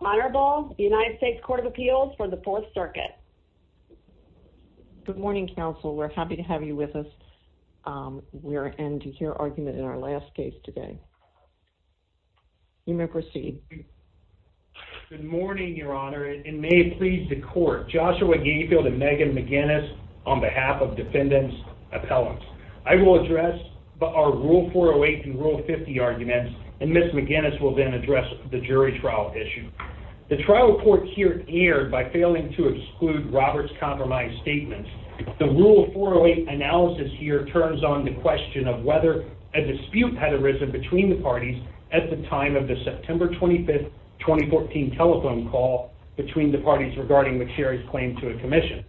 Honorable United States Court of Appeals for the Fourth Circuit. Good morning, counsel. We're happy to have you with us. We're in to hear argument in our last case today. You may proceed. Good morning, Your Honor, and may it please the Court. Joshua Gayfield and Megan McGinnis on behalf of Defendant's Appellants. I will address our Rule 408 and Rule 50 arguments, and Ms. McGinnis will then address the jury trial issue. The trial court here erred by failing to exclude Robert's compromise statements. The Rule 408 analysis here turns on the question of whether a dispute had arisen between the parties at the time of the September 25, 2014 telephone call between the parties regarding Macsherry's claim to a commission.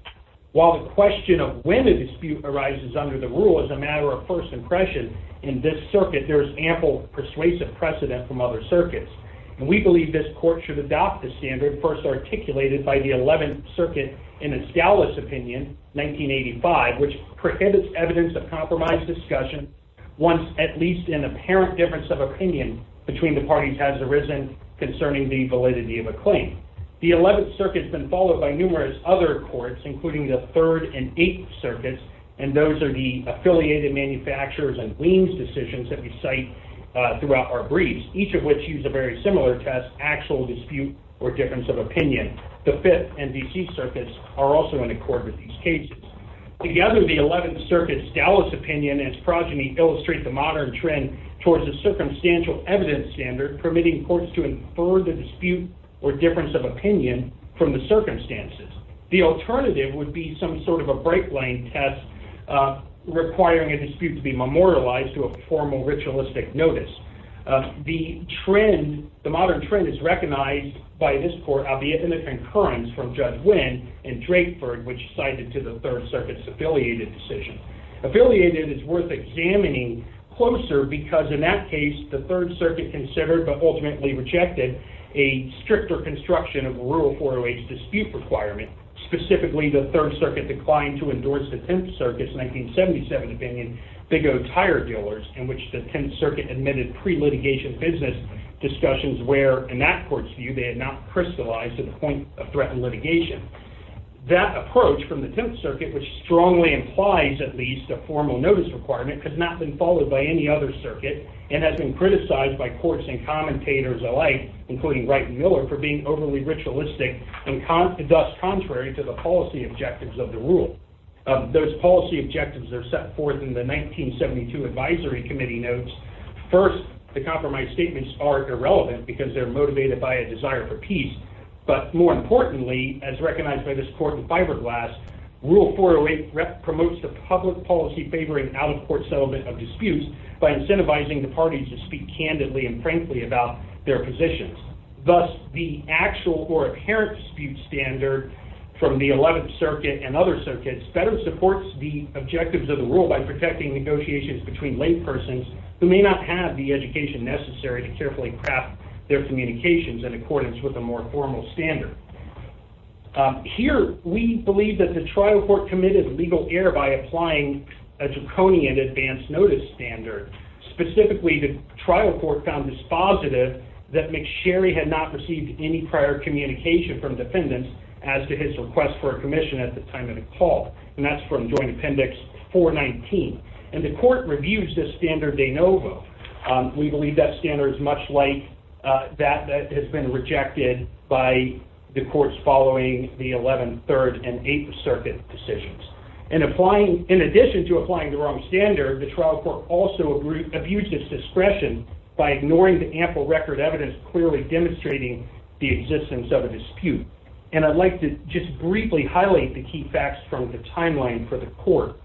While the question of when a dispute arises under the rule is a matter of first impression, in this circuit there is ample persuasive precedent from other circuits. And we believe this court should adopt the standard first articulated by the Eleventh Circuit in its Dallas opinion, 1985, which prohibits evidence of compromise discussion once at least an apparent difference of opinion between the parties has arisen concerning the validity of a claim. The Eleventh Circuit has been followed by numerous other courts, including the Third and Eighth Circuits, and those are the affiliated manufacturers and liens decisions that we cite throughout our briefs, each of which use a very similar test, actual dispute or difference of opinion. The Fifth and D.C. Circuits are also in accord with these cases. Together, the Eleventh Circuit's Dallas opinion and its progeny illustrate the modern trend towards a circumstantial evidence standard permitting courts to infer the dispute or difference of opinion from the circumstances. The alternative would be some sort of a break line test requiring a dispute to be memorialized to a formal ritualistic notice. The trend, the modern trend is recognized by this court, albeit in a concurrence from Judge Winn in Drakeford, which cited to the Third Circuit's affiliated decision. Affiliated is worth examining closer because in that case, the Third Circuit considered, but ultimately rejected, a stricter construction of a rural 408 dispute requirement. Specifically, the Third Circuit declined to endorse the Tenth Circuit's 1977 opinion, Big O Tire Dealers, in which the Tenth Circuit admitted pre-litigation business discussions where, in that court's view, they had not crystallized to the point of threat litigation. That approach from the Tenth Circuit, which strongly implies at least a formal notice requirement, has not been followed by any other circuit and has been criticized by courts and commentators alike, including Wright and Miller, for being overly ritualistic and thus contrary to the policy objectives of the rule. Those policy objectives are set forth in the 1972 advisory committee notes. First, the compromise statements are irrelevant because they're motivated by a desire for peace, but more importantly, as recognized by this court in fiberglass, Rule 408 promotes the public policy favoring out-of-court settlement of disputes by incentivizing the parties to speak candidly and frankly about their positions. Thus, the actual or apparent dispute standard from the Eleventh Circuit and other circuits better supports the objectives of the rule by protecting negotiations between laypersons who may not have the education necessary to carefully craft their communications in accordance with a more formal standard. Here, we believe that the trial court committed legal error by applying a draconian advance notice standard. Specifically, the trial court found this positive that McSherry had not received any prior communication from defendants as to his request for a commission at the time of the call, and that's from Joint Appendix 419. And the court reviews this standard de novo. We believe that standard is much like that that has been rejected by the courts following the Eleventh, Third, and Eighth Circuit decisions. In addition to applying the wrong standard, the trial court also abused its discretion by ignoring the ample record evidence clearly demonstrating the existence of a dispute. And I'd like to just briefly highlight the key facts from the timeline for the court.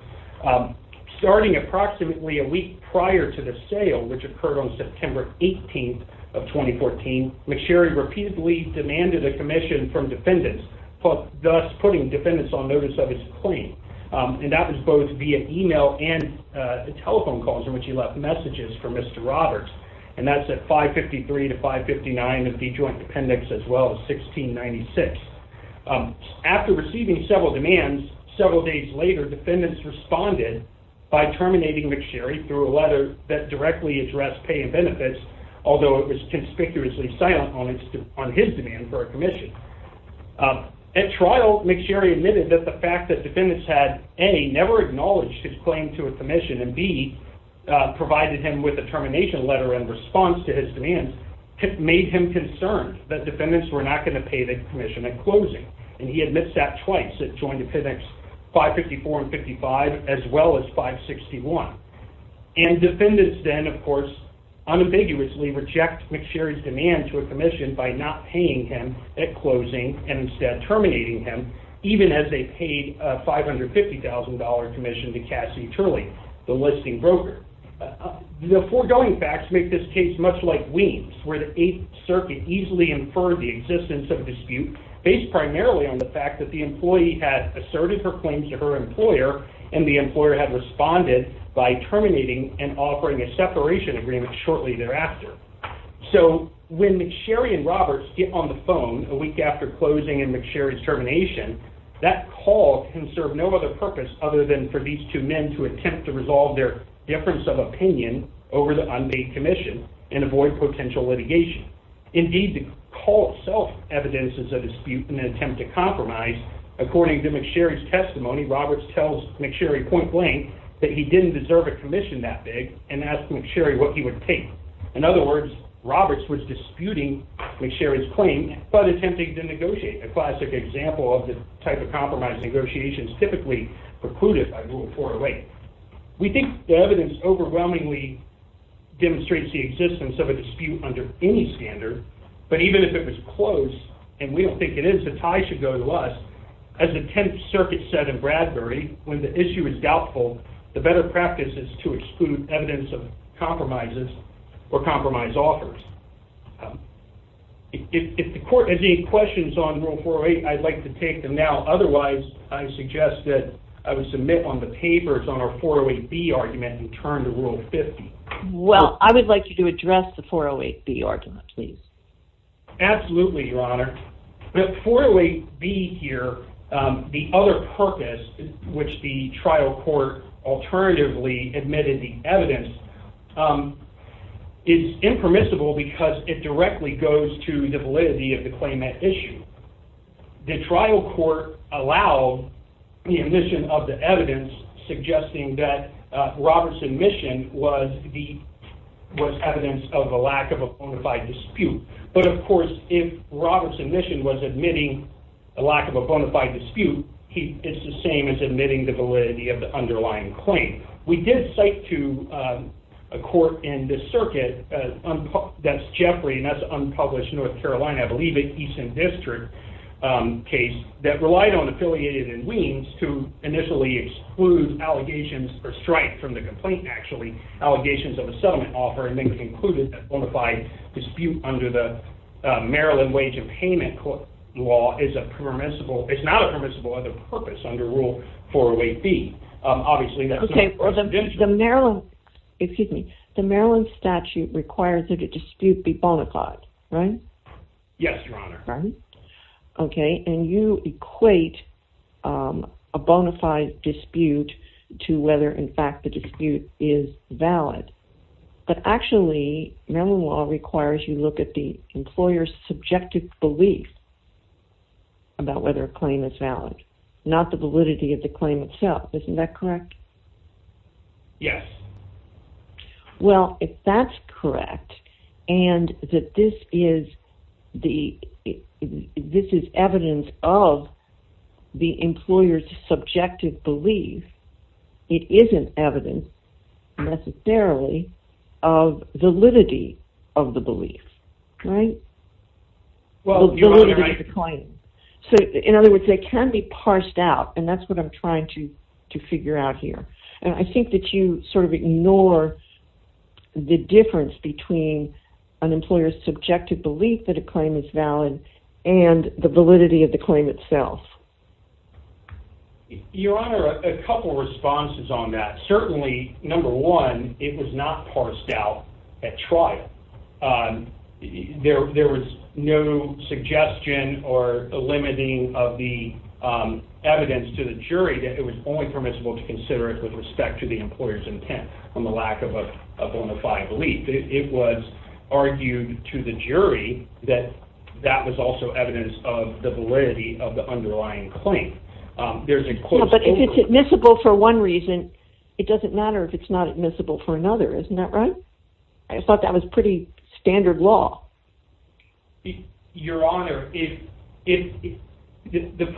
Starting approximately a week prior to the sale, which occurred on September 18th of 2014, McSherry repeatedly demanded a commission from defendants, thus putting defendants on notice of his claim. And that was both via email and telephone calls in which he left messages for Mr. Roberts. And that's at 553 to 559 of the Joint Appendix, as well as 1696. After receiving several demands, several days later, defendants responded by terminating McSherry through a letter that directly addressed pay and benefits, although it was conspicuously silent on his demand for a commission. At trial, McSherry admitted that the fact that defendants had A, never acknowledged his claim to a commission, and B, provided him with a termination letter in response to his demands, made him concerned that defendants were not going to pay the commission at closing. And he admits that twice, at Joint Appendix 554 and 55, as well as 561. And defendants then, of course, unambiguously reject McSherry's demand to a commission by not paying him at closing, and instead terminating him, even as they paid a $550,000 commission to Cassie Turley, the listing broker. The foregoing facts make this case much like Weems, where the Eighth Circuit easily inferred the existence of a dispute based primarily on the fact that the employee had asserted her claims to her employer, and the employer had responded by terminating and offering a separation agreement shortly thereafter. So, when McSherry and Roberts get on the phone a week after closing and McSherry's termination, that call can serve no other purpose other than for these two men to attempt to resolve their difference of opinion over the unpaid commission, and avoid potential litigation. Indeed, the call itself evidences a dispute in an attempt to compromise. According to McSherry's testimony, Roberts tells McSherry point blank that he didn't deserve a commission that big, and asked McSherry what he would take. In other words, Roberts was disputing McSherry's claim, but attempting to negotiate, a classic example of the type of compromise negotiations typically precluded by Rule 408. We think the evidence overwhelmingly demonstrates the existence of a dispute under any standard, but even if it was close, and we don't think it is, the tie should go to us. As the Tenth Circuit said in Bradbury, when the issue is doubtful, the better practice is to exclude evidence of compromises or compromise offers. If the court has any questions on Rule 408, I'd like to take them now. Otherwise, I suggest that I would submit on the papers on our 408B argument and turn to Rule 50. Well, I would like you to address the 408B argument, please. Absolutely, Your Honor. The 408B here, the other purpose, which the trial court alternatively admitted the evidence, is impermissible because it directly goes to the validity of the claimant issue. The trial court allowed the admission of the evidence, suggesting that Roberts' admission was evidence of a lack of a bona fide dispute. But, of course, if Roberts' admission was admitting a lack of a bona fide dispute, it's the same as admitting the validity of the underlying claim. We did cite to a court in this circuit, that's Jeffrey and that's unpublished, North Carolina, I believe it, Easton District case, that relied on affiliated and liens to initially exclude allegations, or strike from the complaint, actually, allegations of a settlement offer and then concluded that bona fide dispute under the Maryland Wage and Payment Law is not a permissible other purpose under Rule 408B. Okay, the Maryland statute requires that a dispute be bona fide, right? Yes, Your Honor. Okay, and you equate a bona fide dispute to whether, in fact, the dispute is valid. But, actually, Maryland law requires you look at the employer's subjective belief about whether a claim is valid, not the validity of the claim itself. Isn't that correct? Yes. Well, if that's correct, and that this is evidence of the employer's subjective belief, it isn't evidence, necessarily, of validity of the belief, right? The validity of the claim. So, in other words, they can be parsed out, and that's what I'm trying to figure out here. And I think that you sort of ignore the difference between an employer's subjective belief that a claim is valid and the validity of the claim itself. Your Honor, a couple responses on that. Certainly, number one, it was not parsed out at trial. There was no suggestion or limiting of the evidence to the jury that it was only permissible to consider it with respect to the employer's intent on the lack of a bona fide belief. It was argued to the jury that that was also evidence of the validity of the underlying claim. Yeah, but if it's admissible for one reason, it doesn't matter if it's not admissible for another. Isn't that right? I thought that was pretty standard law. Your Honor, the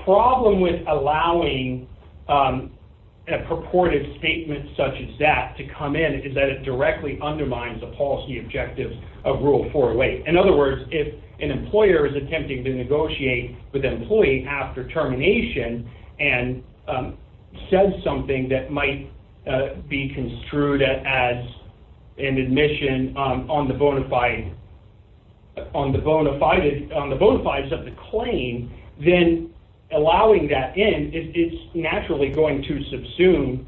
problem with allowing a purported statement such as that to come in is that it directly undermines the policy objectives of Rule 408. In other words, if an employer is attempting to negotiate with an employee after termination and says something that might be construed as an admission on the bona fides of the claim, then allowing that in, it's naturally going to subsume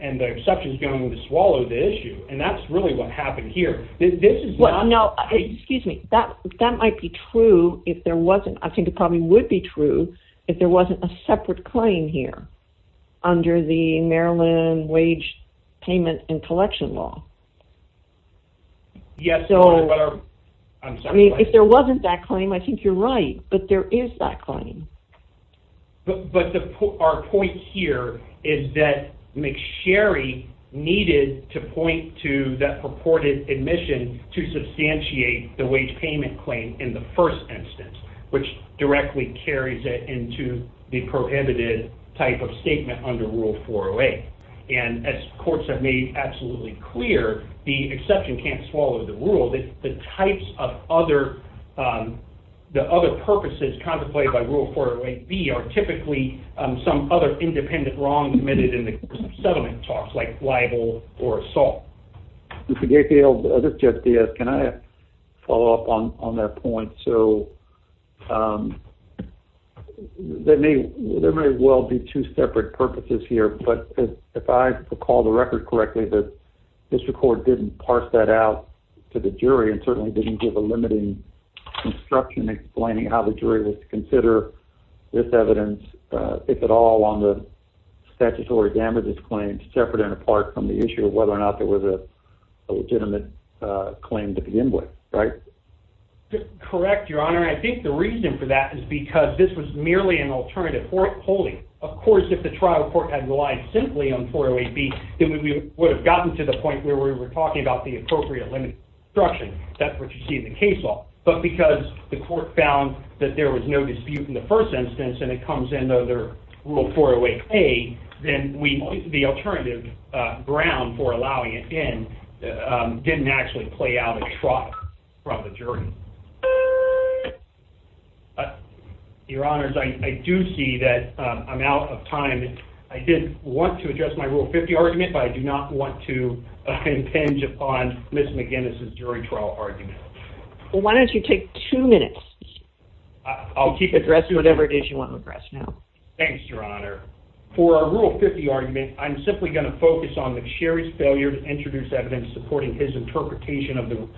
and the exception is going to swallow the issue. And that's really what happened here. No, excuse me. That might be true if there wasn't, I think it probably would be true if there wasn't a separate claim here under the Maryland Wage Payment and Collection Law. If there wasn't that claim, I think you're right, but there is that claim. But our point here is that McSherry needed to point to that purported admission to substantiate the wage payment claim in the first instance, which directly carries it into the prohibited type of statement under Rule 408. And as courts have made absolutely clear, the exception can't swallow the rule. The types of other, the other purposes contemplated by Rule 408B are typically some other independent wrongs committed in the course of settlement talks, like libel or assault. Mr. Gatfield, this is Jeff Diaz. Can I follow up on that point? There may well be two separate purposes here, but if I recall the record correctly, the district court didn't parse that out to the jury and certainly didn't give a limiting instruction explaining how the jury was to consider this evidence, if at all, on the statutory damages claim, separate and apart from the issue of whether or not there was a legitimate claim to begin with, right? Correct, Your Honor. I think the reason for that is because this was merely an alternative for polling. Of course, if the trial court had relied simply on 408B, then we would have gotten to the point where we were talking about the appropriate limiting instruction. That's what you see in the case law. But because the court found that there was no dispute in the first instance and it comes in under Rule 408A, then the alternative ground for allowing it in didn't actually play out at trial from the jury. Your Honors, I do see that I'm out of time. I did want to address my Rule 50 argument, but I do not want to impinge upon Ms. McGinnis' jury trial argument. Well, why don't you take two minutes? I'll keep addressing whatever it is you want to address now. Thanks, Your Honor. For our Rule 50 argument, I'm simply going to focus on McSherry's failure to introduce evidence supporting his interpretation of the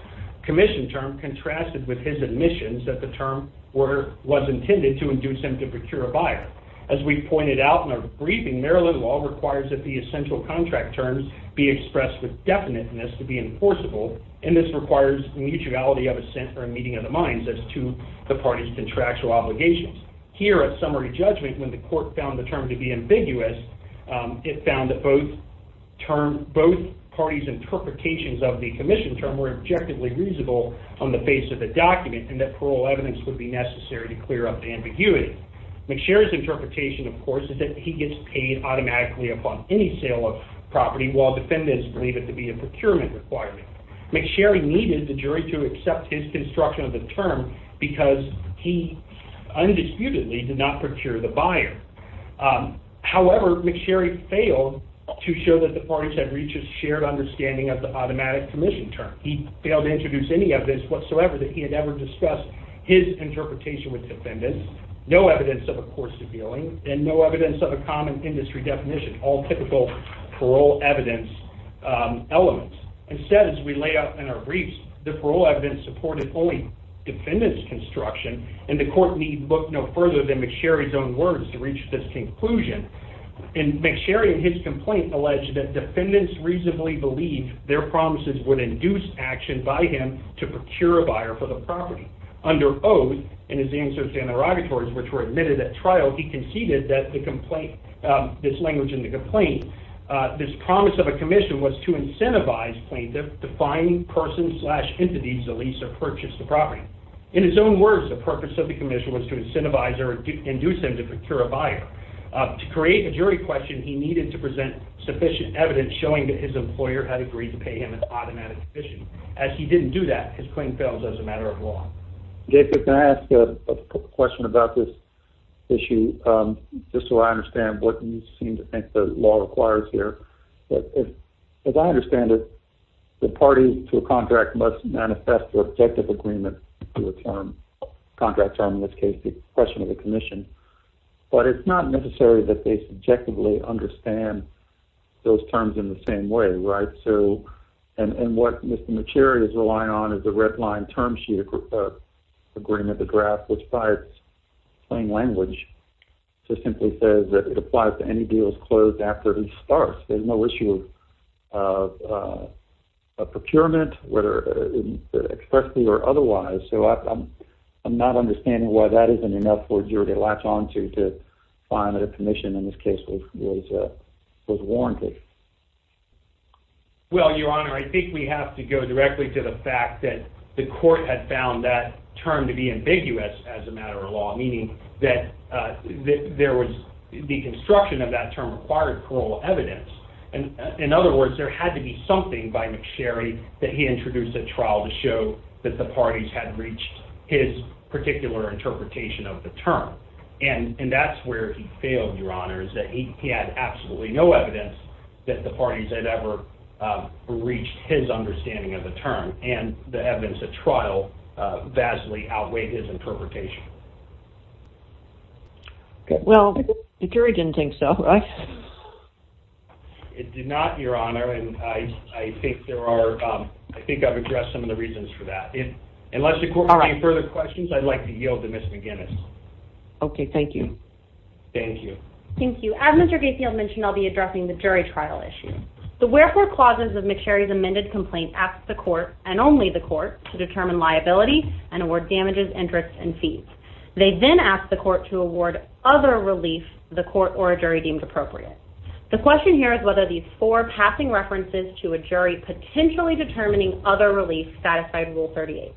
commission term contrasted with his admissions that the term was intended to induce him to procure a buyer. As we pointed out in our briefing, Maryland law requires that the essential contract terms be expressed with definiteness to be enforceable, and this requires mutuality of assent or a meeting of the minds as to the parties' contractual obligations. Here at summary judgment, when the court found the term to be ambiguous, it found that both parties' interpretations of the commission term were objectively reasonable on the face of the document and that parole evidence would be necessary to clear up the ambiguity. McSherry's interpretation, of course, is that he gets paid automatically upon any sale of property while defendants believe it to be a procurement requirement. McSherry needed the jury to accept his construction of the term because he undisputedly did not procure the buyer. However, McSherry failed to show that the parties had reached McSherry's shared understanding of the automatic commission term. He failed to introduce any evidence whatsoever that he had ever discussed his interpretation with defendants, no evidence of a court's appealing, and no evidence of a common industry definition, all typical parole evidence elements. Instead, as we lay out in our briefs, the parole evidence supported only defendants' construction, and the court need look no further than McSherry's own words to reach this conclusion. McSherry in his complaint alleged that defendants reasonably believed their promises would induce action by him to procure a buyer for the property. Under oath, in his answers to interrogatories, which were admitted at trial, he conceded that the complaint, this language in the complaint, this promise of a commission was to incentivize plaintiff to find persons slash entities to lease or purchase the property. In his own words, the purpose of the commission was to incentivize or induce him to procure a buyer. To create a jury question, he needed to present sufficient evidence showing that his employer had agreed to pay him an automatic commission. As he didn't do that, his claim fails as a matter of law. David, can I ask a question about this issue, just so I understand what you seem to think the law requires here? As I understand it, the parties to a contract must manifest their objective agreement to a term, contract term, in this case the question of the commission. But it's not necessary that they subjectively understand those terms in the same way, right? And what Mr. McSherry is relying on is the red line term sheet agreement, the draft, which by its plain language just simply says that it applies to any deals closed after each starts. There's no issue of procurement, whether expressly or otherwise. So I'm not understanding why that isn't enough for a jury to latch on to to find that a commission in this case was warranted. Well, Your Honor, I think we have to go directly to the fact that the court had found that term to be ambiguous as a matter of law, meaning that the construction of that term required plural evidence. In other words, there had to be something by McSherry that he introduced at trial to show that the parties had reached his particular interpretation of the term. And that's where he failed, Your Honor, is that he had absolutely no evidence that the parties had ever reached his understanding of the term, and the evidence at trial vastly outweighed his interpretation. Well, the jury didn't think so, right? It did not, Your Honor, and I think I've addressed some of the reasons for that. Unless the court has any further questions, I'd like to yield to Ms. McGinnis. Okay, thank you. Thank you. Thank you. As Mr. Gatefield mentioned, I'll be addressing the jury trial issue. The wherefore clauses of McSherry's amended complaint asked the court and only the court to determine liability and award damages, interests, and fees. They then asked the court to award other relief the court or jury deemed appropriate. The question here is whether these four passing references to a jury potentially determining other relief satisfied Rule 38.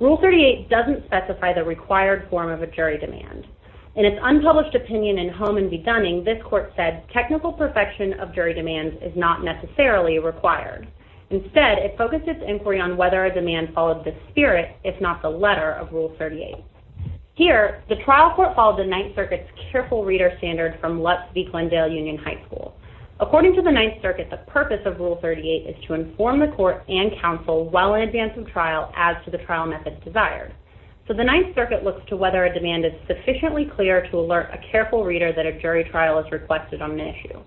Rule 38 doesn't specify the required form of a jury demand. In its unpublished opinion in Hohman v. Dunning, this court said, technical perfection of jury demands is not necessarily required. Instead, it focused its inquiry on whether a demand followed the spirit, if not the letter, of Rule 38. Here, the trial court followed the Ninth Circuit's careful reader standard from Lutz v. Glendale Union High School. According to the Ninth Circuit, the purpose of Rule 38 is to inform the court and counsel well in advance of trial as to the trial method desired. So the Ninth Circuit looks to whether a demand is sufficiently clear to alert a careful reader that a jury trial is requested on an issue.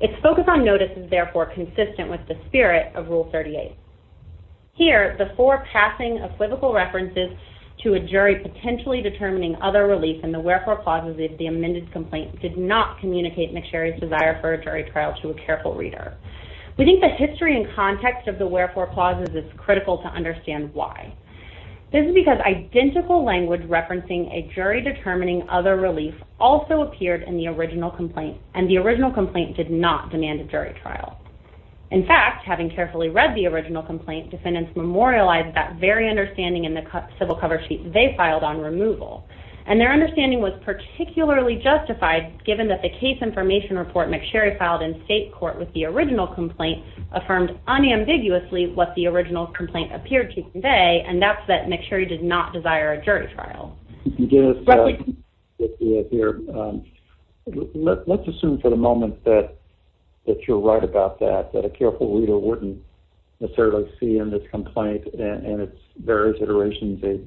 Its focus on notice is therefore consistent with the spirit of Rule 38. Here, the four passing equivocal references to a jury potentially determining other relief in the wherefore clauses of the amended complaint did not communicate McSherry's desire for a jury trial to a careful reader. We think the history and context of the wherefore clauses is critical to understand why. This is because identical language referencing a jury determining other relief also appeared in the original complaint, and the original complaint did not demand a jury trial. In fact, having carefully read the original complaint, defendants memorialized that very understanding in the civil cover sheet they filed on removal. And their understanding was particularly justified given that the case information report McSherry filed in state court with the original complaint affirmed unambiguously what the original complaint appeared to convey, and that's that McSherry did not desire a jury trial. Let's assume for the moment that you're right about that, that a careful reader wouldn't necessarily see in this complaint and its various iterations a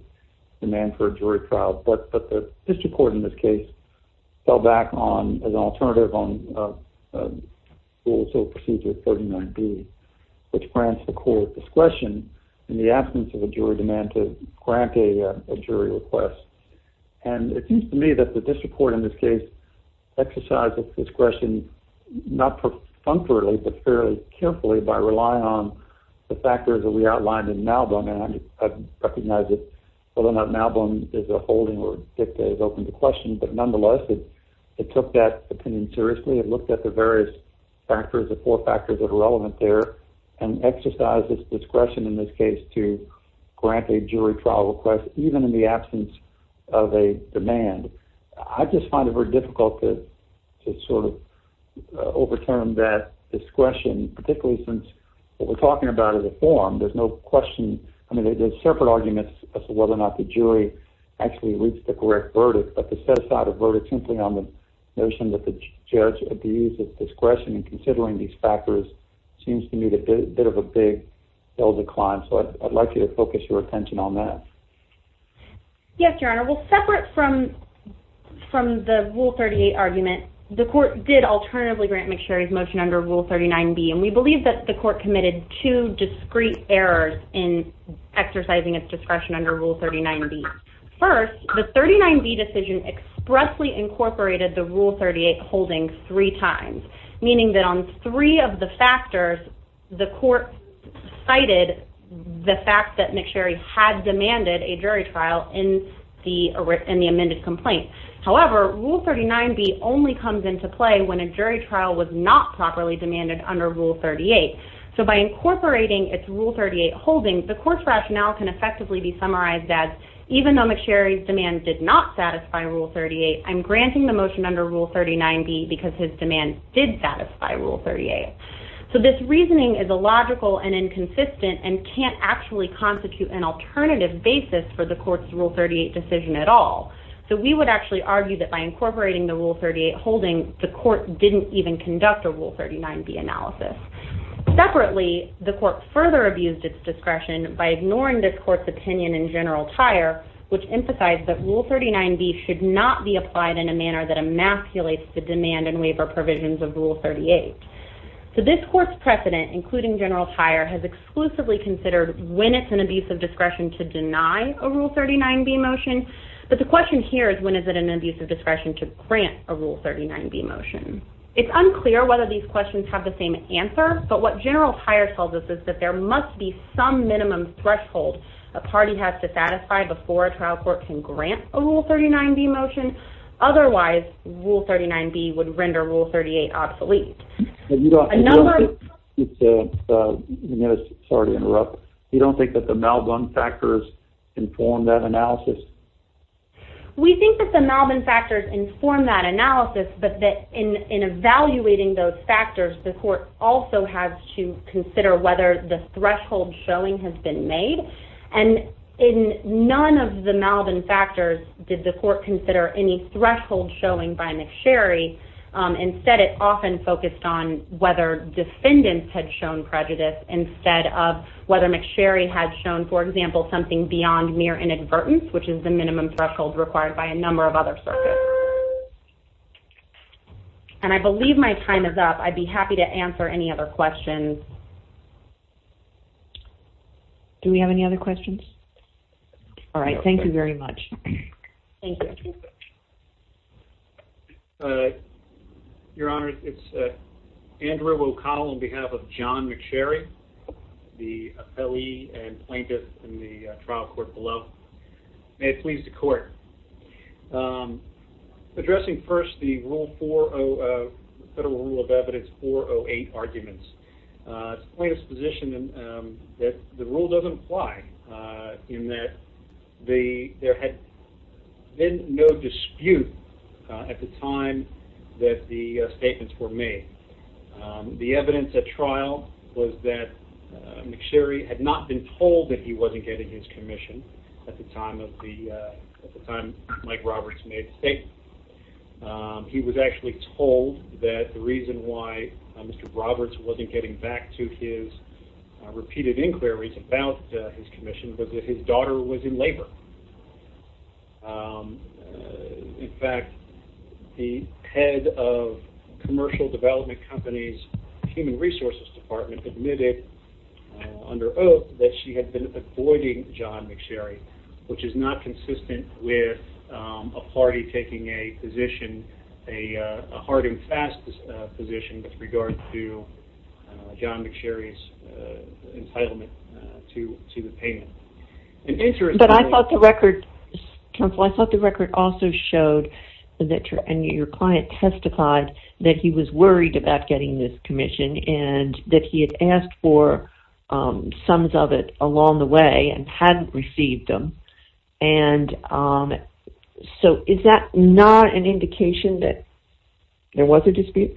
demand for a jury trial. But the district court in this case fell back on an alternative on Rule 39B, which grants the court discretion in the absence of a jury demand to grant a jury request. And it seems to me that the district court in this case exercised its discretion not perfunctorily but fairly carefully by relying on the factors that we outlined in Malvern, and I recognize that whether or not Malvern is a holding or dicta is open to question, but nonetheless it took that opinion seriously and looked at the various factors, the four factors that are relevant there, and exercised its discretion in this case to grant a jury trial request even in the absence of a demand. I just find it very difficult to sort of overturn that discretion, particularly since what we're talking about is a form. There's no question. I mean, there's separate arguments as to whether or not the jury actually reached the correct verdict, but to set aside a verdict simply on the notion that the judge abused its discretion in considering these factors seems to me to be a bit of a big hill to climb, so I'd like you to focus your attention on that. Yes, Your Honor. Well, separate from the Rule 38 argument, the court did alternatively grant McSherry's motion under Rule 39B, and we believe that the court committed two discrete errors in exercising its discretion under Rule 39B. First, the 39B decision expressly incorporated the Rule 38 holding three times, meaning that on three of the factors, the court cited the fact that McSherry had demanded a jury trial in the amended complaint. However, Rule 39B only comes into play when a jury trial was not properly demanded under Rule 38. So by incorporating its Rule 38 holding, the court's rationale can effectively be summarized as, even though McSherry's demand did not satisfy Rule 38, I'm granting the motion under Rule 39B because his demand did satisfy Rule 38. So this reasoning is illogical and inconsistent and can't actually constitute an alternative basis for the court's Rule 38 decision at all. So we would actually argue that by incorporating the Rule 38 holding, the court didn't even conduct a Rule 39B analysis. Separately, the court further abused its discretion by ignoring this court's opinion in General Tire, which emphasized that Rule 39B should not be applied in a manner that emasculates the demand and waiver provisions of Rule 38. So this court's precedent, including General Tire, has exclusively considered when it's an abuse of discretion to deny a Rule 39B motion, but the question here is, when is it an abuse of discretion to grant a Rule 39B motion? It's unclear whether these questions have the same answer, but what General Tire tells us is that there must be some minimum threshold a party has to satisfy before a trial court can grant a Rule 39B motion. Otherwise, Rule 39B would render Rule 38 obsolete. You don't think that the Malbin factors inform that analysis? We think that the Malbin factors inform that analysis, but in evaluating those factors, the court also has to consider whether the threshold showing has been made, and in none of the Malbin factors did the court consider any threshold showing by McSherry. Instead, it often focused on whether defendants had shown prejudice instead of whether McSherry had shown, for example, something beyond mere inadvertence, which is the minimum threshold required by a number of other circuits. And I believe my time is up. I'd be happy to answer any other questions. Do we have any other questions? All right. Thank you very much. Thank you. Your Honor, it's Andrew O'Connell on behalf of John McSherry, the appellee and plaintiff in the trial court below. May it please the Court. Addressing first the Federal Rule of Evidence 408 arguments, plaintiff's position that the rule doesn't apply, in that there had been no dispute at the time that the statements were made. The evidence at trial was that McSherry had not been told that he wasn't getting his commission at the time Mike Roberts made the statement. He was actually told that the reason why Mr. Roberts wasn't getting back to his repeated inquiries about his commission was that his daughter was in labor. In fact, the head of Commercial Development Company's Human Resources Department admitted under oath that she had been avoiding John McSherry, which is not consistent with a party taking a position, a hard and fast position with regard to John McSherry's entitlement to the payment. But I thought the record, counsel, I thought the record also showed that your client testified that he was worried about getting this commission and that he had asked for sums of it along the way and hadn't received them. And so is that not an indication that there was a dispute?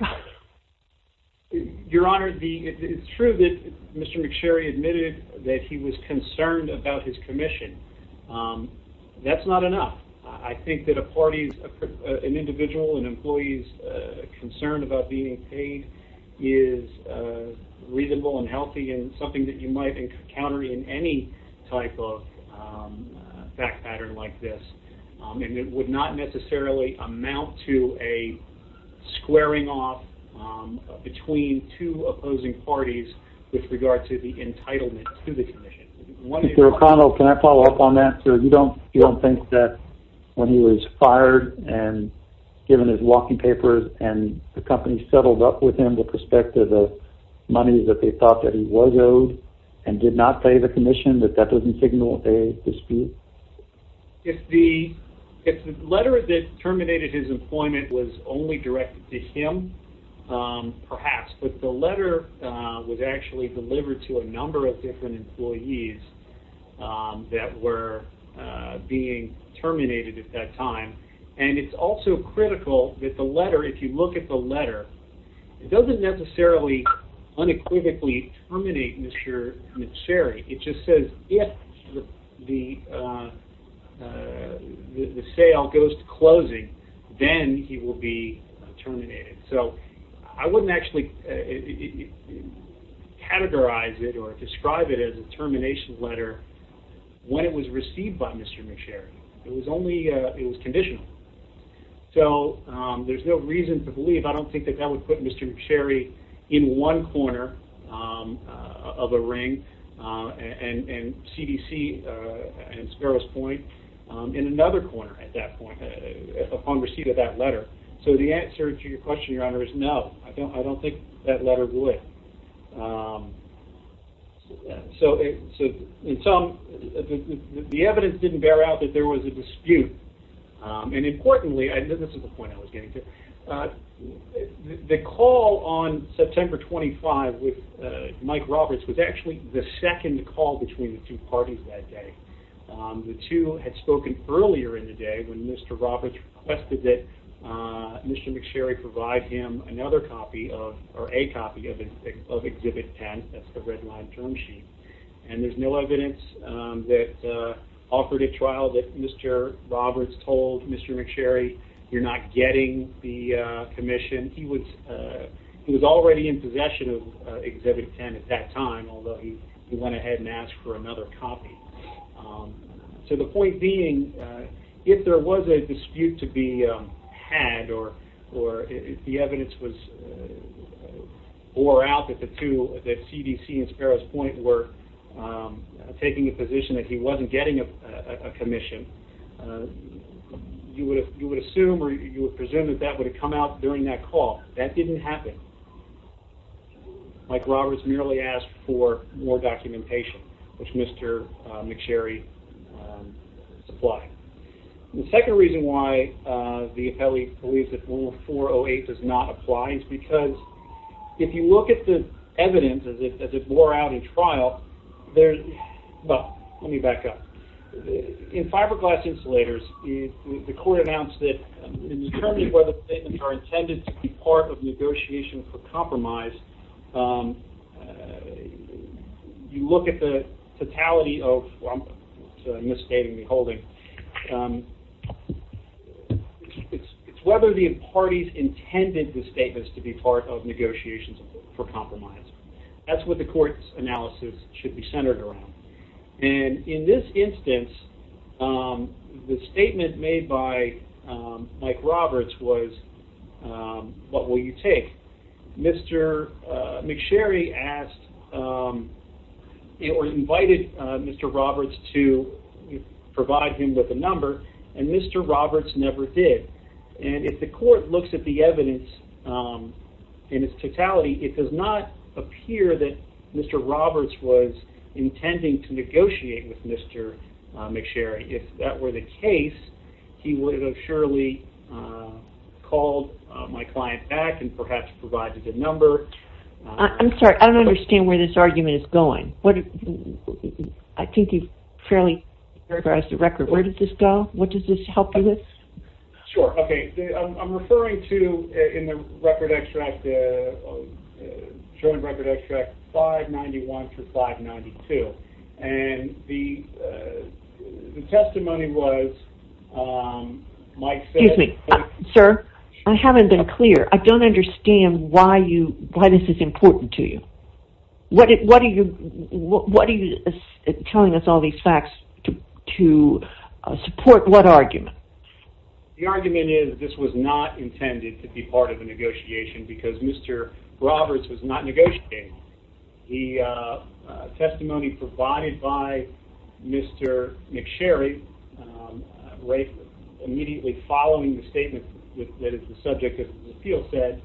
Your Honor, it's true that Mr. McSherry admitted that he was concerned about his commission. That's not enough. I think that a party, an individual, an employee's concern about being paid is reasonable and healthy and something that you might encounter in any type of fact pattern like this. And it would not necessarily amount to a squaring off between two opposing parties with regard to the entitlement to the commission. Mr. O'Connell, can I follow up on that? Counsel, you don't think that when he was fired and given his walking papers and the company settled up with him with respect to the money that they thought that he was owed and did not pay the commission, that that doesn't signal a dispute? If the letter that terminated his employment was only directed to him, perhaps. Yes, but the letter was actually delivered to a number of different employees that were being terminated at that time. And it's also critical that the letter, if you look at the letter, it doesn't necessarily unequivocally terminate Mr. McSherry. It just says if the sale goes to closing, then he will be terminated. So I wouldn't actually categorize it or describe it as a termination letter when it was received by Mr. McSherry. It was only, it was conditional. So there's no reason to believe, I don't think that that would put Mr. McSherry in one corner of a ring and CDC and Sparrows Point in another corner at that point upon receipt of that letter. So the answer to your question, Your Honor, is no. I don't think that letter would. So in sum, the evidence didn't bear out that there was a dispute. And importantly, and this is the point I was getting to, the call on September 25 with Mike Roberts was actually the second call between the two parties that day. The two had spoken earlier in the day when Mr. Roberts requested that Mr. McSherry provide him another copy of, or a copy of Exhibit 10, that's the red line term sheet. And there's no evidence that offered a trial that Mr. Roberts told Mr. McSherry you're not getting the commission. And he was already in possession of Exhibit 10 at that time, although he went ahead and asked for another copy. So the point being, if there was a dispute to be had or if the evidence was, or out that the two, that CDC and Sparrows Point were taking a position that he wasn't getting a commission, you would assume or you would presume that that would have come out during that call. That didn't happen. Mike Roberts merely asked for more documentation, which Mr. McSherry supplied. The second reason why the appellee believes that 408 does not apply is because if you look at the evidence as it wore out in trial, well, let me back up. In fiberglass insulators, the court announced that in terms of whether statements are intended to be part of negotiation for compromise, you look at the totality of, I'm misstating the holding, it's whether the parties intended the statements to be part of negotiations for compromise. That's what the court's analysis should be centered around. And in this instance, the statement made by Mike Roberts was, what will you take? Mr. McSherry asked or invited Mr. Roberts to provide him with a number, and Mr. Roberts never did. And if the court looks at the evidence in its totality, it does not appear that Mr. Roberts was intending to negotiate with Mr. McSherry. If that were the case, he would have surely called my client back and perhaps provided the number. I'm sorry, I don't understand where this argument is going. I think you've fairly summarized the record. Where did this go? What does this help you with? Sure. Okay. I'm referring to in the record extract, showing record extract 591 through 592. And the testimony was Mike said... Excuse me, sir, I haven't been clear. I don't understand why this is important to you. What are you telling us all these facts to support what argument? The argument is this was not intended to be part of the negotiation because Mr. Roberts was not negotiating. The testimony provided by Mr. McSherry, right immediately following the statement that is the subject of the appeal said,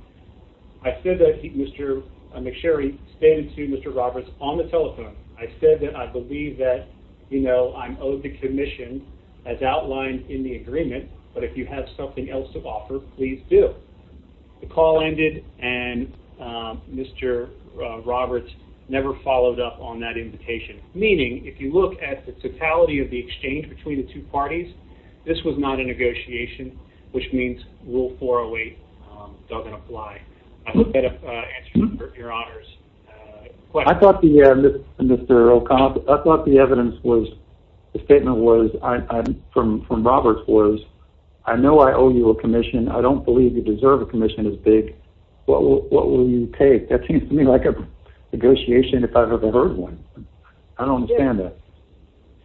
I said that Mr. McSherry stated to Mr. Roberts on the telephone, I said that I believe that, you know, I'm owed the commission as outlined in the agreement, but if you have something else to offer, please do. The call ended and Mr. Roberts never followed up on that invitation, meaning if you look at the totality of the exchange between the two parties, this was not a negotiation, which means Rule 408 doesn't apply. I hope that answers your honor's question. I thought the evidence was, the statement from Roberts was, I know I owe you a commission. I don't believe you deserve a commission as big. What will you take? That seems to me like a negotiation if I've ever heard one. I don't understand that.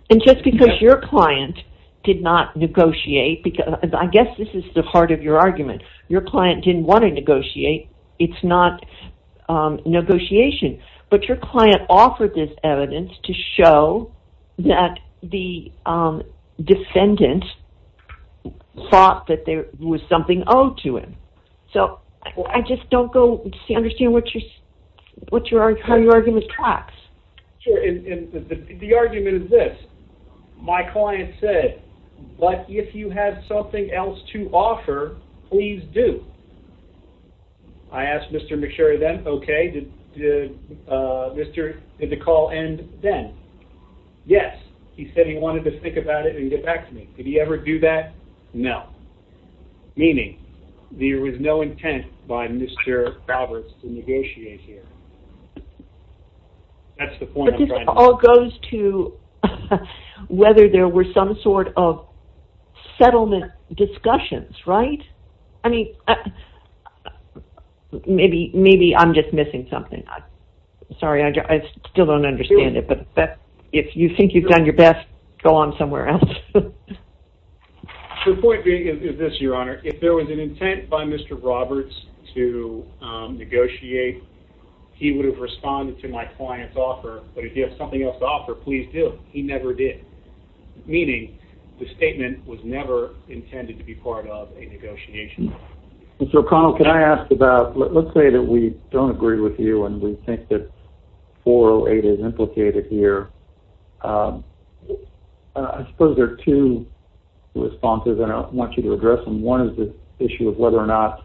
And just because your client did not negotiate, I guess this is the heart of your argument, your client didn't want to negotiate, it's not negotiation, but your client offered this evidence to show that the defendant thought that there was something owed to him. So I just don't understand how your argument tracks. Sure, and the argument is this. My client said, but if you have something else to offer, please do. I asked Mr. McSherry then, okay, did the call end then? Yes. He said he wanted to think about it and get back to me. Did he ever do that? No. Meaning there was no intent by Mr. Roberts to negotiate here. That's the point I'm trying to make. But this all goes to whether there were some sort of settlement discussions, right? I mean, maybe I'm just missing something. Sorry, I still don't understand it, but if you think you've done your best, go on somewhere else. The point being is this, Your Honor. If there was an intent by Mr. Roberts to negotiate, he would have responded to my client's offer, but if you have something else to offer, please do. He never did. Meaning the statement was never intended to be part of a negotiation. Mr. O'Connell, can I ask about, let's say that we don't agree with you and we think that 408 is implicated here. I suppose there are two responses that I want you to address, and one is the issue of whether or not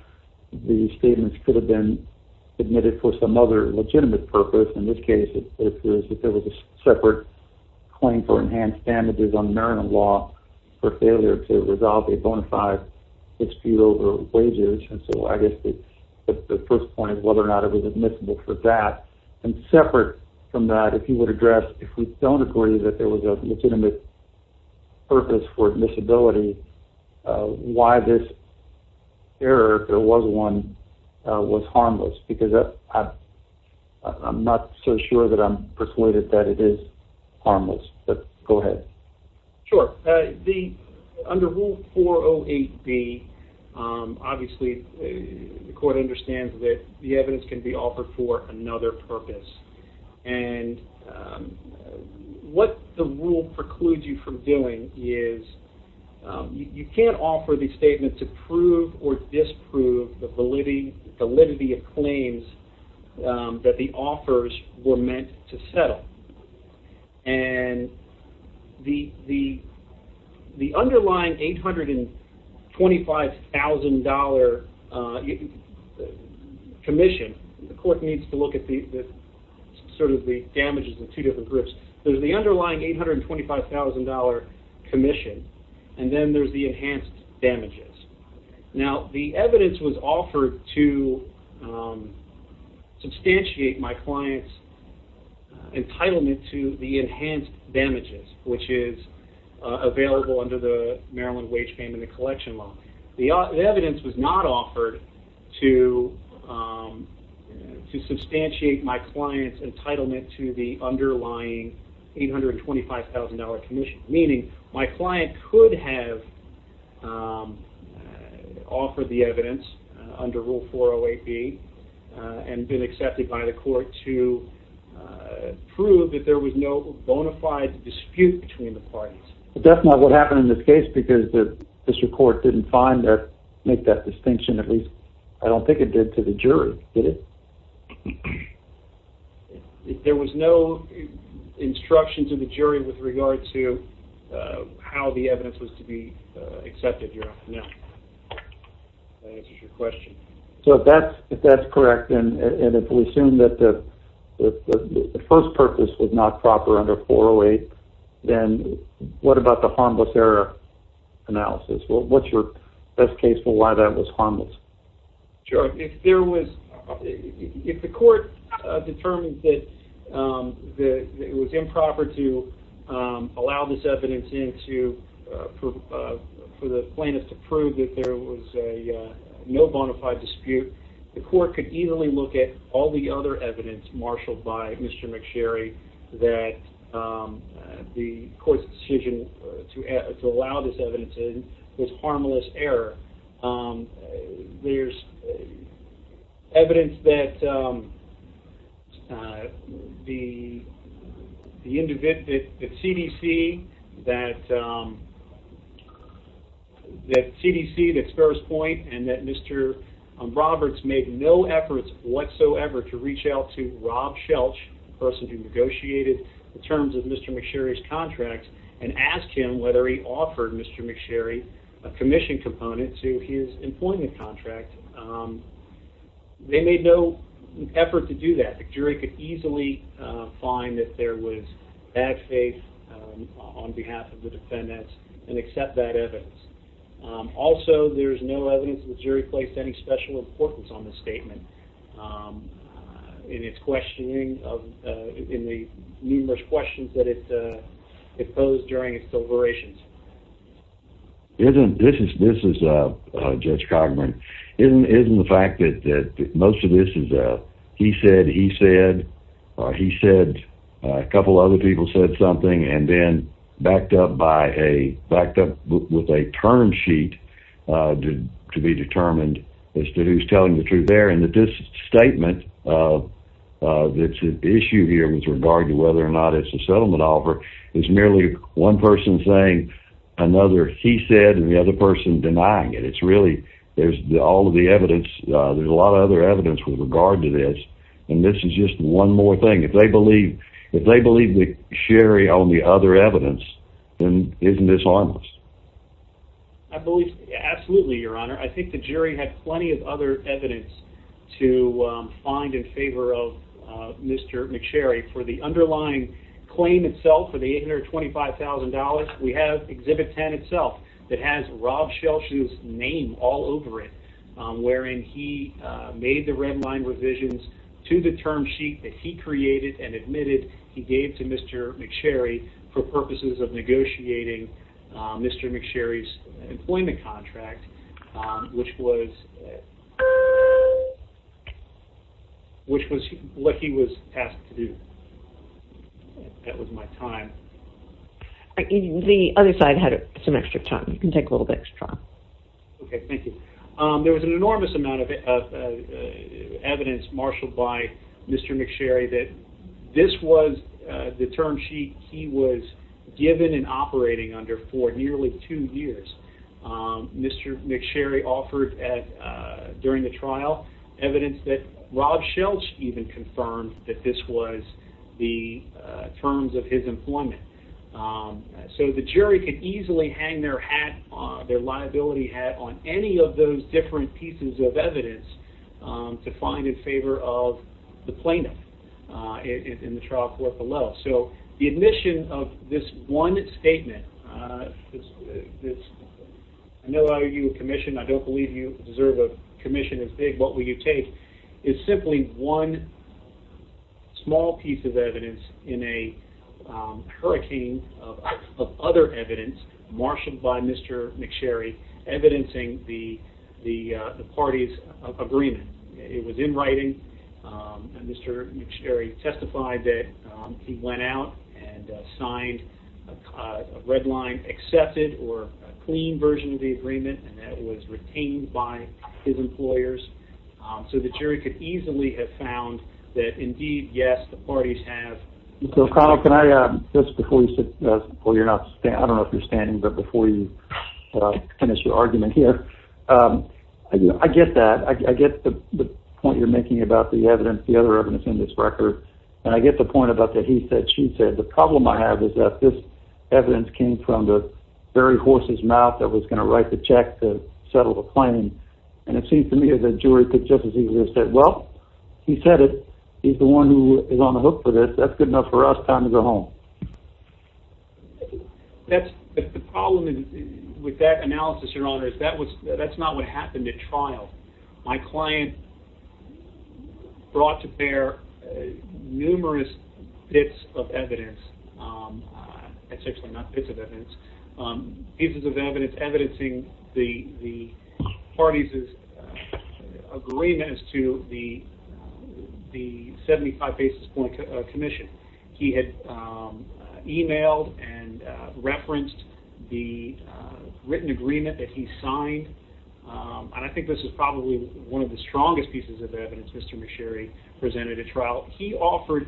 the statements could have been admitted for some other legitimate purpose. In this case, it was that there was a separate claim for enhanced damages on marital law for failure to resolve a bona fide dispute over wages, and so I guess the first point is whether or not it was admissible for that. And separate from that, if you would address if we don't agree that there was a legitimate purpose for admissibility, why this error, if there was one, was harmless. Because I'm not so sure that I'm persuaded that it is harmless, but go ahead. Sure. Under Rule 408B, obviously the court understands that the evidence can be offered for another purpose. And what the rule precludes you from doing is you can't offer the statement to prove or disprove the validity of claims that the offers were meant to settle. And the underlying $825,000 commission, the court needs to look at sort of the damages in two different groups. There's the underlying $825,000 commission, and then there's the enhanced damages. Now, the evidence was offered to substantiate my client's entitlement to the enhanced damages, which is available under the Maryland Wage Payment and Collection Law. The evidence was not offered to substantiate my client's entitlement to the underlying $825,000 commission, meaning my client could have offered the evidence under Rule 408B and been accepted by the court to prove that there was no bona fide dispute between the parties. But that's not what happened in this case because the district court didn't find or make that distinction, at least I don't think it did to the jury, did it? If there was no instruction to the jury with regard to how the evidence was to be accepted, you're off and out. If that answers your question. So if that's correct and if we assume that the first purpose was not proper under 408, then what about the harmless error analysis? What's your best case for why that was harmless? If the court determined that it was improper to allow this evidence in for the plaintiff to prove that there was no bona fide dispute, the court could easily look at all the other evidence marshaled by Mr. McSherry that the court's decision to allow this evidence in was harmless error. There's evidence that CDC, that Sparrows Point, and that Mr. Roberts made no efforts whatsoever to reach out to Rob Shelch, the person who negotiated the terms of Mr. McSherry's contract, and asked him whether he offered Mr. McSherry a commission component to his employment contract. They made no effort to do that. The jury could easily find that there was bad faith on behalf of the defendants and accept that evidence. Also, there's no evidence that the jury placed any special importance on this statement in its questioning, in the numerous questions that it posed during its deliberations. This is Judge Cogburn. Isn't the fact that most of this is he said, he said, he said, a couple other people said something, and then backed up with a term sheet to be determined as to who's telling the truth there, and that this statement that's at issue here with regard to whether or not it's a settlement offer is merely one person saying another he said and the other person denying it. It's really all of the evidence. There's a lot of other evidence with regard to this, and this is just one more thing. If they believe McSherry on the other evidence, then isn't this harmless? I believe absolutely, Your Honor. I think the jury had plenty of other evidence to find in favor of Mr. McSherry. For the underlying claim itself, for the $825,000, we have Exhibit 10 itself that has Rob Shelsh's name all over it, wherein he made the red line revisions to the term sheet that he created and admitted he gave to Mr. McSherry for purposes of negotiating Mr. McSherry's employment contract, which was what he was asked to do. That was my time. The other side had some extra time. You can take a little bit extra. Okay, thank you. There was an enormous amount of evidence marshaled by Mr. McSherry that this was the term sheet he was given and operating under for nearly two years. Mr. McSherry offered during the trial evidence that Rob Shelsh even confirmed that this was the terms of his employment. So the jury could easily hang their liability hat on any of those different pieces of evidence to find in favor of the plaintiff in the trial court below. So the admission of this one statement, I know I owe you a commission, I don't believe you deserve a commission as big, what will you take? is simply one small piece of evidence in a hurricane of other evidence marshaled by Mr. McSherry evidencing the party's agreement. It was in writing and Mr. McSherry testified that he went out and signed a red line, or a clean version of the agreement and that was retained by his employers. So the jury could easily have found that indeed, yes, the parties have... Mr. O'Connell, I don't know if you're standing, but before you finish your argument here, I get that, I get the point you're making about the evidence, the other evidence in this record, and I get the point about that he said, she said. The problem I have is that this evidence came from the very horse's mouth that was going to write the check to settle the claim, and it seems to me that the jury could just as easily have said, well, he said it, he's the one who is on the hook for this, that's good enough for us, time to go home. The problem with that analysis, your honor, is that's not what happened at trial. My client brought to bear numerous bits of evidence, essentially not bits of evidence, pieces of evidence evidencing the parties' agreement as to the 75 basis point commission. He had emailed and referenced the written agreement that he signed, and I think this is probably one of the strongest pieces of evidence. Mr. Machere presented at trial, he offered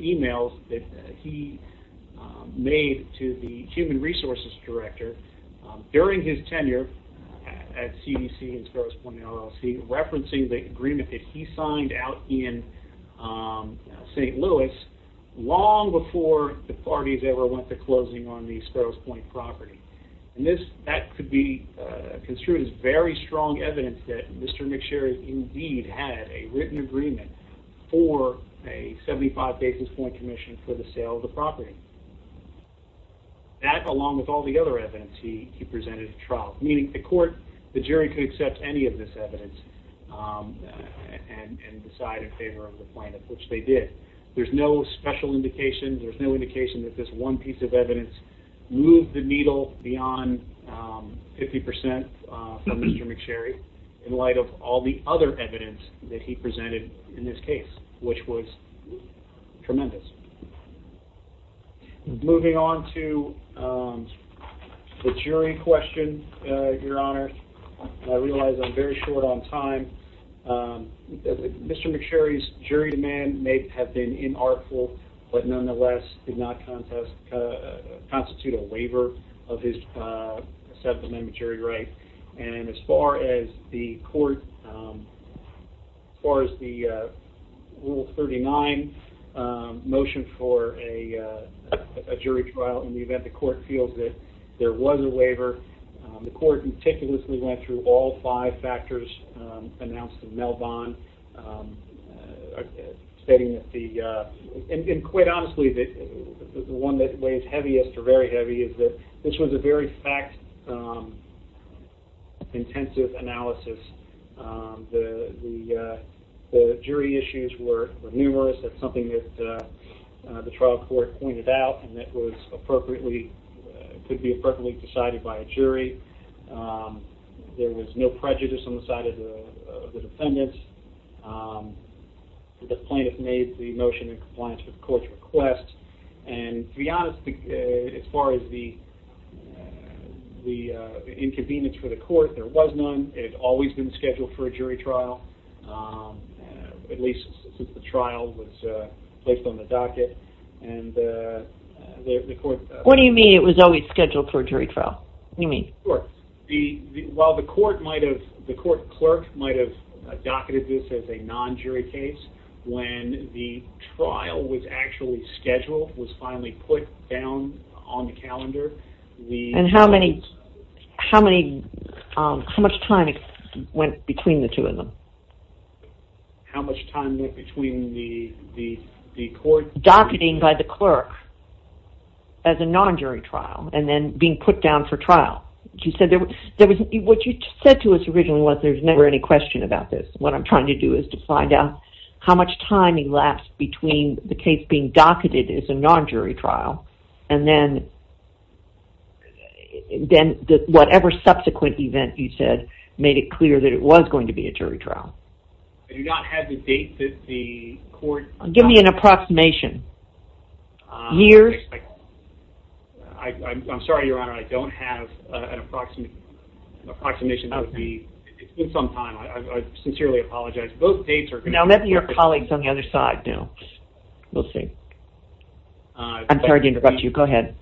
emails that he made to the human resources director during his tenure at CDC and Sparrows Point LLC referencing the agreement that he signed out in St. Louis long before the parties ever went to closing on the Sparrows Point property. That could be construed as very strong evidence that Mr. Machere indeed had a written agreement for a 75 basis point commission for the sale of the property. That along with all the other evidence he presented at trial, meaning the court, the jury could accept any of this evidence and decide in favor of the plaintiff, which they did. There's no special indication, there's no indication that this one piece of evidence moved the needle beyond 50% from Mr. Machere in light of all the other evidence that he presented in this case, which was tremendous. Moving on to the jury question, Your Honor, I realize I'm very short on time. Mr. Machere's jury demand may have been inartful, but nonetheless did not constitute a waiver of his settlement and jury right. And as far as the court, as far as the Rule 39 motion for a jury trial in the event the court feels that there was a waiver, the court meticulously went through all five factors announced in Melvon, stating that the, and quite honestly the one that weighs heaviest or very heavy is that this was a very fact-intensive analysis. The jury issues were numerous. That's something that the trial court pointed out and that was appropriately, could be appropriately decided by a jury. There was no prejudice on the side of the defendants. The plaintiff made the motion in compliance with the court's request. And to be honest, as far as the inconvenience for the court, there was none. It had always been scheduled for a jury trial, at least since the trial was placed on the docket. And the court... What do you mean it was always scheduled for a jury trial? What do you mean? Sure. While the court might have, the court clerk might have docketed this as a non-jury case, when the trial was actually scheduled, was finally put down on the calendar... And how much time went between the two of them? How much time went between the court... Docketing by the clerk as a non-jury trial and then being put down for trial. What you said to us originally was there's never any question about this. What I'm trying to do is to find out how much time elapsed between the case being docketed as a non-jury trial, and then whatever subsequent event you said made it clear that it was going to be a jury trial. You do not have the date that the court... Give me an approximation. Years? I'm sorry, Your Honor, I don't have an approximation. It's been some time. I sincerely apologize. Both dates are... I'll let your colleagues on the other side know. We'll see. I'm sorry to interrupt you. Go ahead.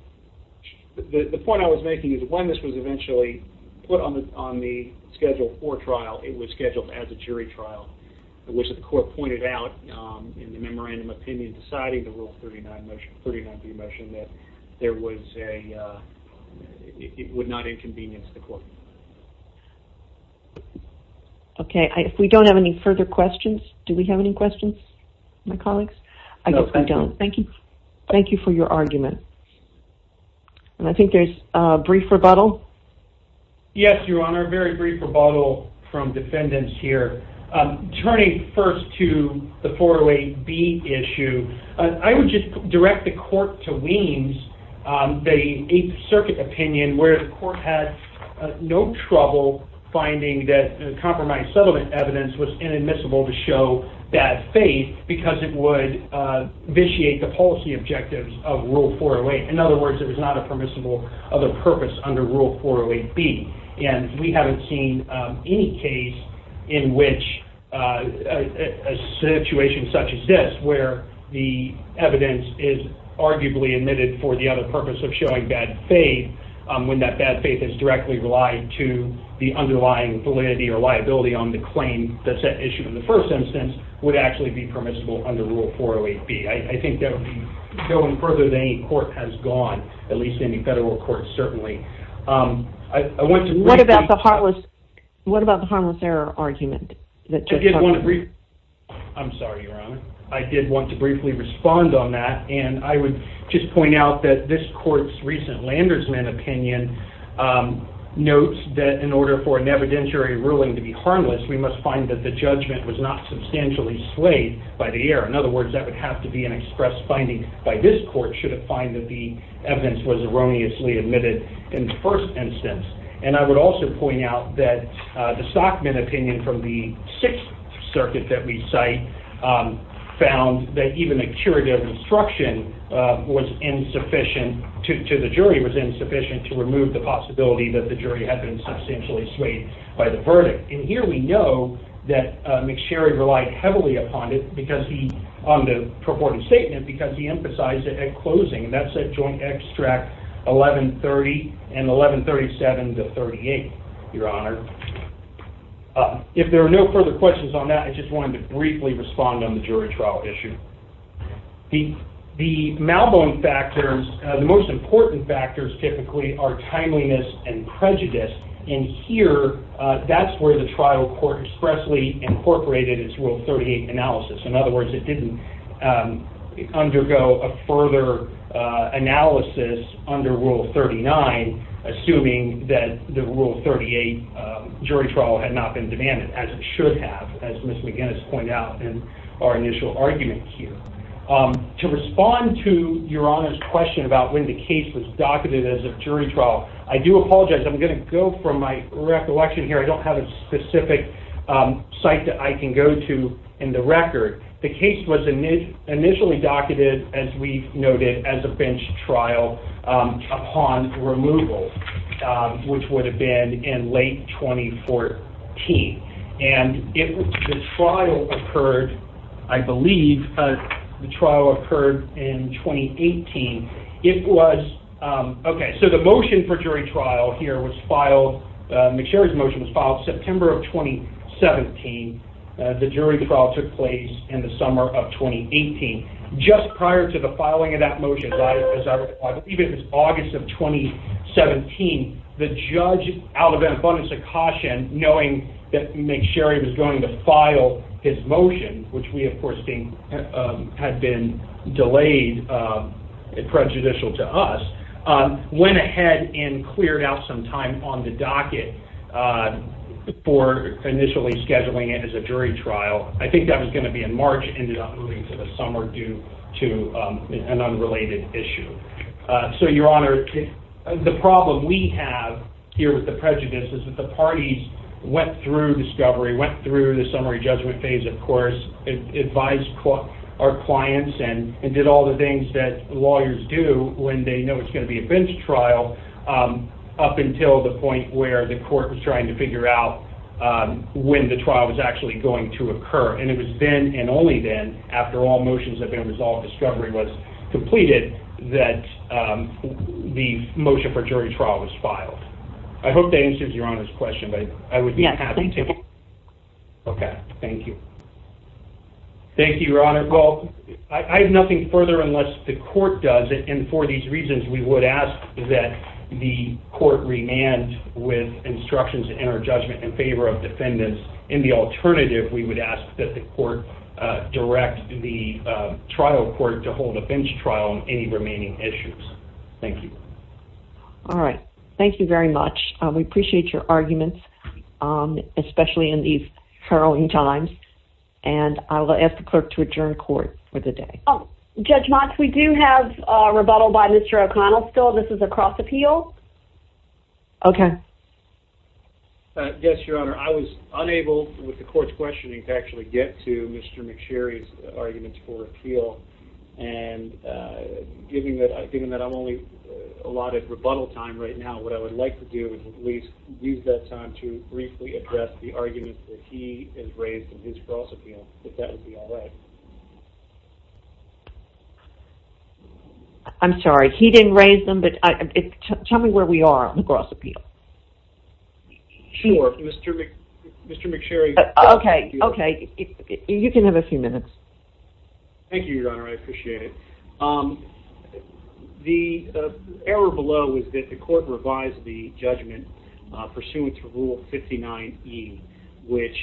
The point I was making is when this was eventually put on the schedule for trial, it was scheduled as a jury trial, which the court pointed out in the memorandum of opinion, deciding the Rule 39b motion, that there was a... It would not inconvenience the court. Okay. If we don't have any further questions, do we have any questions, my colleagues? I guess we don't. Thank you. Thank you for your argument. And I think there's a brief rebuttal. Yes, Your Honor, a very brief rebuttal from defendants here. Turning first to the 408b issue, I would just direct the court to Weems, the Eighth Circuit opinion, where the court had no trouble finding that compromised settlement evidence was inadmissible to show bad faith because it would vitiate the policy objectives of Rule 408. In other words, it was not a permissible other purpose under Rule 408b. And we haven't seen any case in which a situation such as this, where the evidence is arguably admitted for the other purpose of showing bad faith, when that bad faith is directly relied to the underlying validity or liability on the claim that's at issue in the first instance, would actually be permissible under Rule 408b. I think that would be going further than any court has gone, at least any federal court, certainly. What about the harmless error argument? I'm sorry, Your Honor. I did want to briefly respond on that, and I would just point out that this court's recent Landersman opinion notes that in order for an evidentiary ruling to be harmless, we must find that the judgment was not substantially swayed by the error. In other words, that would have to be an express finding by this court should it find that the evidence was erroneously admitted in the first instance. And I would also point out that the Stockman opinion from the Sixth Circuit that we cite found that even a curative instruction to the jury was insufficient to remove the possibility that the jury had been substantially swayed by the verdict. And here we know that McSherry relied heavily upon it on the purported statement because he emphasized it at closing, and that's at Joint Extract 1130 and 1137 to 38, Your Honor. If there are no further questions on that, I just wanted to briefly respond on the jury trial issue. The malbone factors, the most important factors typically are timeliness and prejudice. And here, that's where the trial court expressly incorporated its Rule 38 analysis. In other words, it didn't undergo a further analysis under Rule 39, assuming that the Rule 38 jury trial had not been demanded, as it should have, as Ms. McGinnis pointed out in our initial argument here. To respond to Your Honor's question about when the case was docketed as a jury trial, I do apologize. I'm going to go from my recollection here. I don't have a specific site that I can go to in the record. The case was initially docketed, as we've noted, as a bench trial upon removal, which would have been in late 2014. And the trial occurred, I believe, the trial occurred in 2018. Okay, so the motion for jury trial here was filed, McSherry's motion was filed September of 2017. The jury trial took place in the summer of 2018. Just prior to the filing of that motion, as I recall, I believe it was August of 2017, the judge, out of an abundance of caution, knowing that McSherry was going to file his motion, which we, of course, think had been delayed and prejudicial to us, went ahead and cleared out some time on the docket for initially scheduling it as a jury trial. I think that was going to be in March, ended up moving to the summer due to an unrelated issue. So, Your Honor, the problem we have here with the prejudice is that the parties went through discovery, went through the summary judgment phase, of course, advised our clients, and did all the things that lawyers do when they know it's going to be a bench trial, up until the point where the court was trying to figure out when the trial was actually going to occur. And it was then and only then, after all motions had been resolved, discovery was completed, that the motion for jury trial was filed. I hope that answers Your Honor's question, but I would be happy to. Okay, thank you. Thank you, Your Honor. Well, I have nothing further unless the court does, and for these reasons, we would ask that the court remand with instructions to enter judgment in favor of defendants. In the alternative, we would ask that the court direct the trial court to hold a bench trial on any remaining issues. Thank you. All right, thank you very much. We appreciate your arguments, especially in these hurling times. And I will ask the clerk to adjourn court for the day. Judge Motz, we do have a rebuttal by Mr. O'Connell still. This is a cross appeal. Okay. Yes, Your Honor. I was unable, with the court's questioning, to actually get to Mr. McSherry's arguments for appeal. And given that I'm only allotted rebuttal time right now, what I would like to do is use that time to briefly address the arguments that he has raised in his cross appeal, if that would be all right. I'm sorry, he didn't raise them, but tell me where we are on the cross appeal. Sure, Mr. McSherry. Okay, you can have a few minutes. Thank you, Your Honor. I appreciate it. The error below is that the court revised the judgment pursuant to Rule 59E, which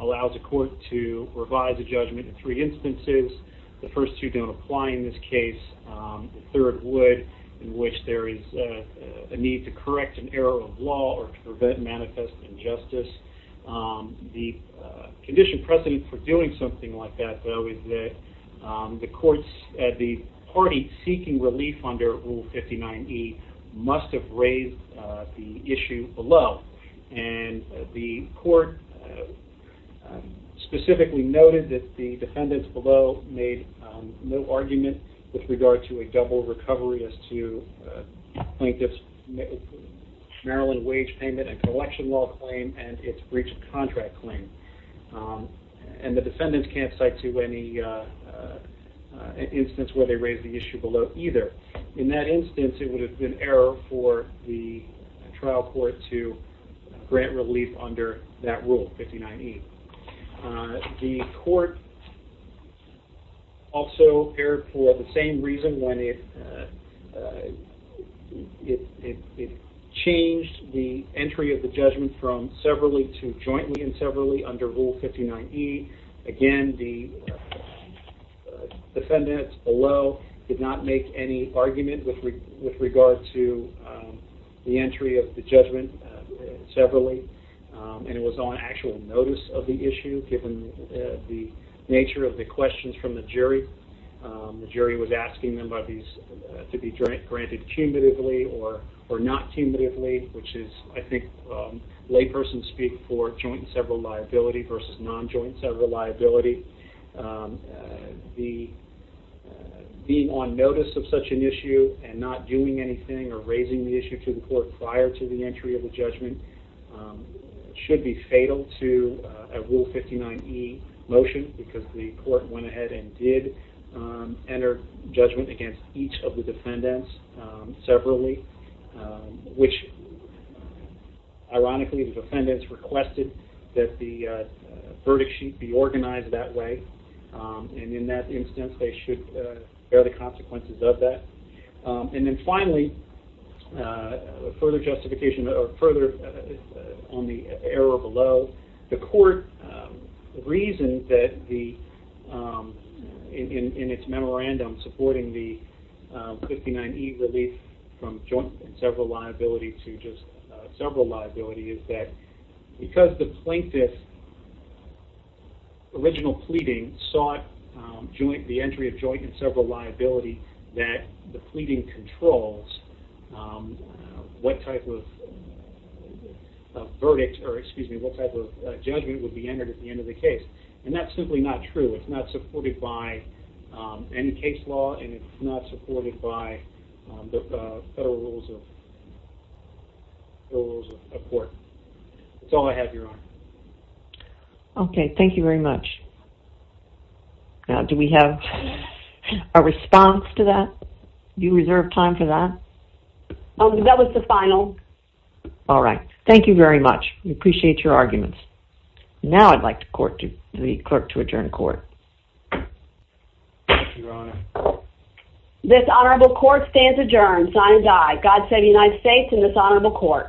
allows a court to revise a judgment in three instances. The first two don't apply in this case. The third would, in which there is a need to correct an error of law or to prevent manifest injustice. The condition precedent for doing something like that, though, is that the courts at the party seeking relief under Rule 59E must have raised the issue below. And the court specifically noted that the defendants below made no argument with regard to a double recovery as to plaintiff's Maryland wage payment and collection law claim and its breach of contract claim. And the defendants can't cite to any instance where they raised the issue below either. In that instance, it would have been error for the trial court to grant relief under that rule, 59E. The court also erred for the same reason when it changed the entry of the judgment from severally to jointly and severally under Rule 59E. Again, the defendants below did not make any argument with regard to the entry of the judgment severally, and it was on actual notice of the issue given the nature of the questions from the jury. The jury was asking them to be granted cumulatively or not cumulatively, which is, I think, layperson speak for joint and several liability versus non-joint and several liability. Being on notice of such an issue and not doing anything or raising the issue to the court prior to the entry of the judgment should be fatal to a Rule 59E motion because the court went ahead and did enter judgment against each of the defendants severally, which, ironically, the defendants requested that the verdict sheet be organized that way. And in that instance, they should bear the consequences of that. And then finally, further justification or further on the error below, the court reasoned that in its memorandum supporting the 59E relief from joint and several liability to just several liability is that because the plaintiff's original pleading sought the entry of joint and several liability, that the pleading controls what type of verdict or, excuse me, what type of judgment would be entered at the end of the case. And that's simply not true. It's not supported by any case law, and it's not supported by the federal rules of court. That's all I have, Your Honor. Okay, thank you very much. Now, do we have a response to that? Do you reserve time for that? That was the final. All right. Thank you very much. We appreciate your arguments. Now I'd like the clerk to adjourn court. Thank you, Your Honor. This honorable court stands adjourned, sign and die. God save the United States and this honorable court.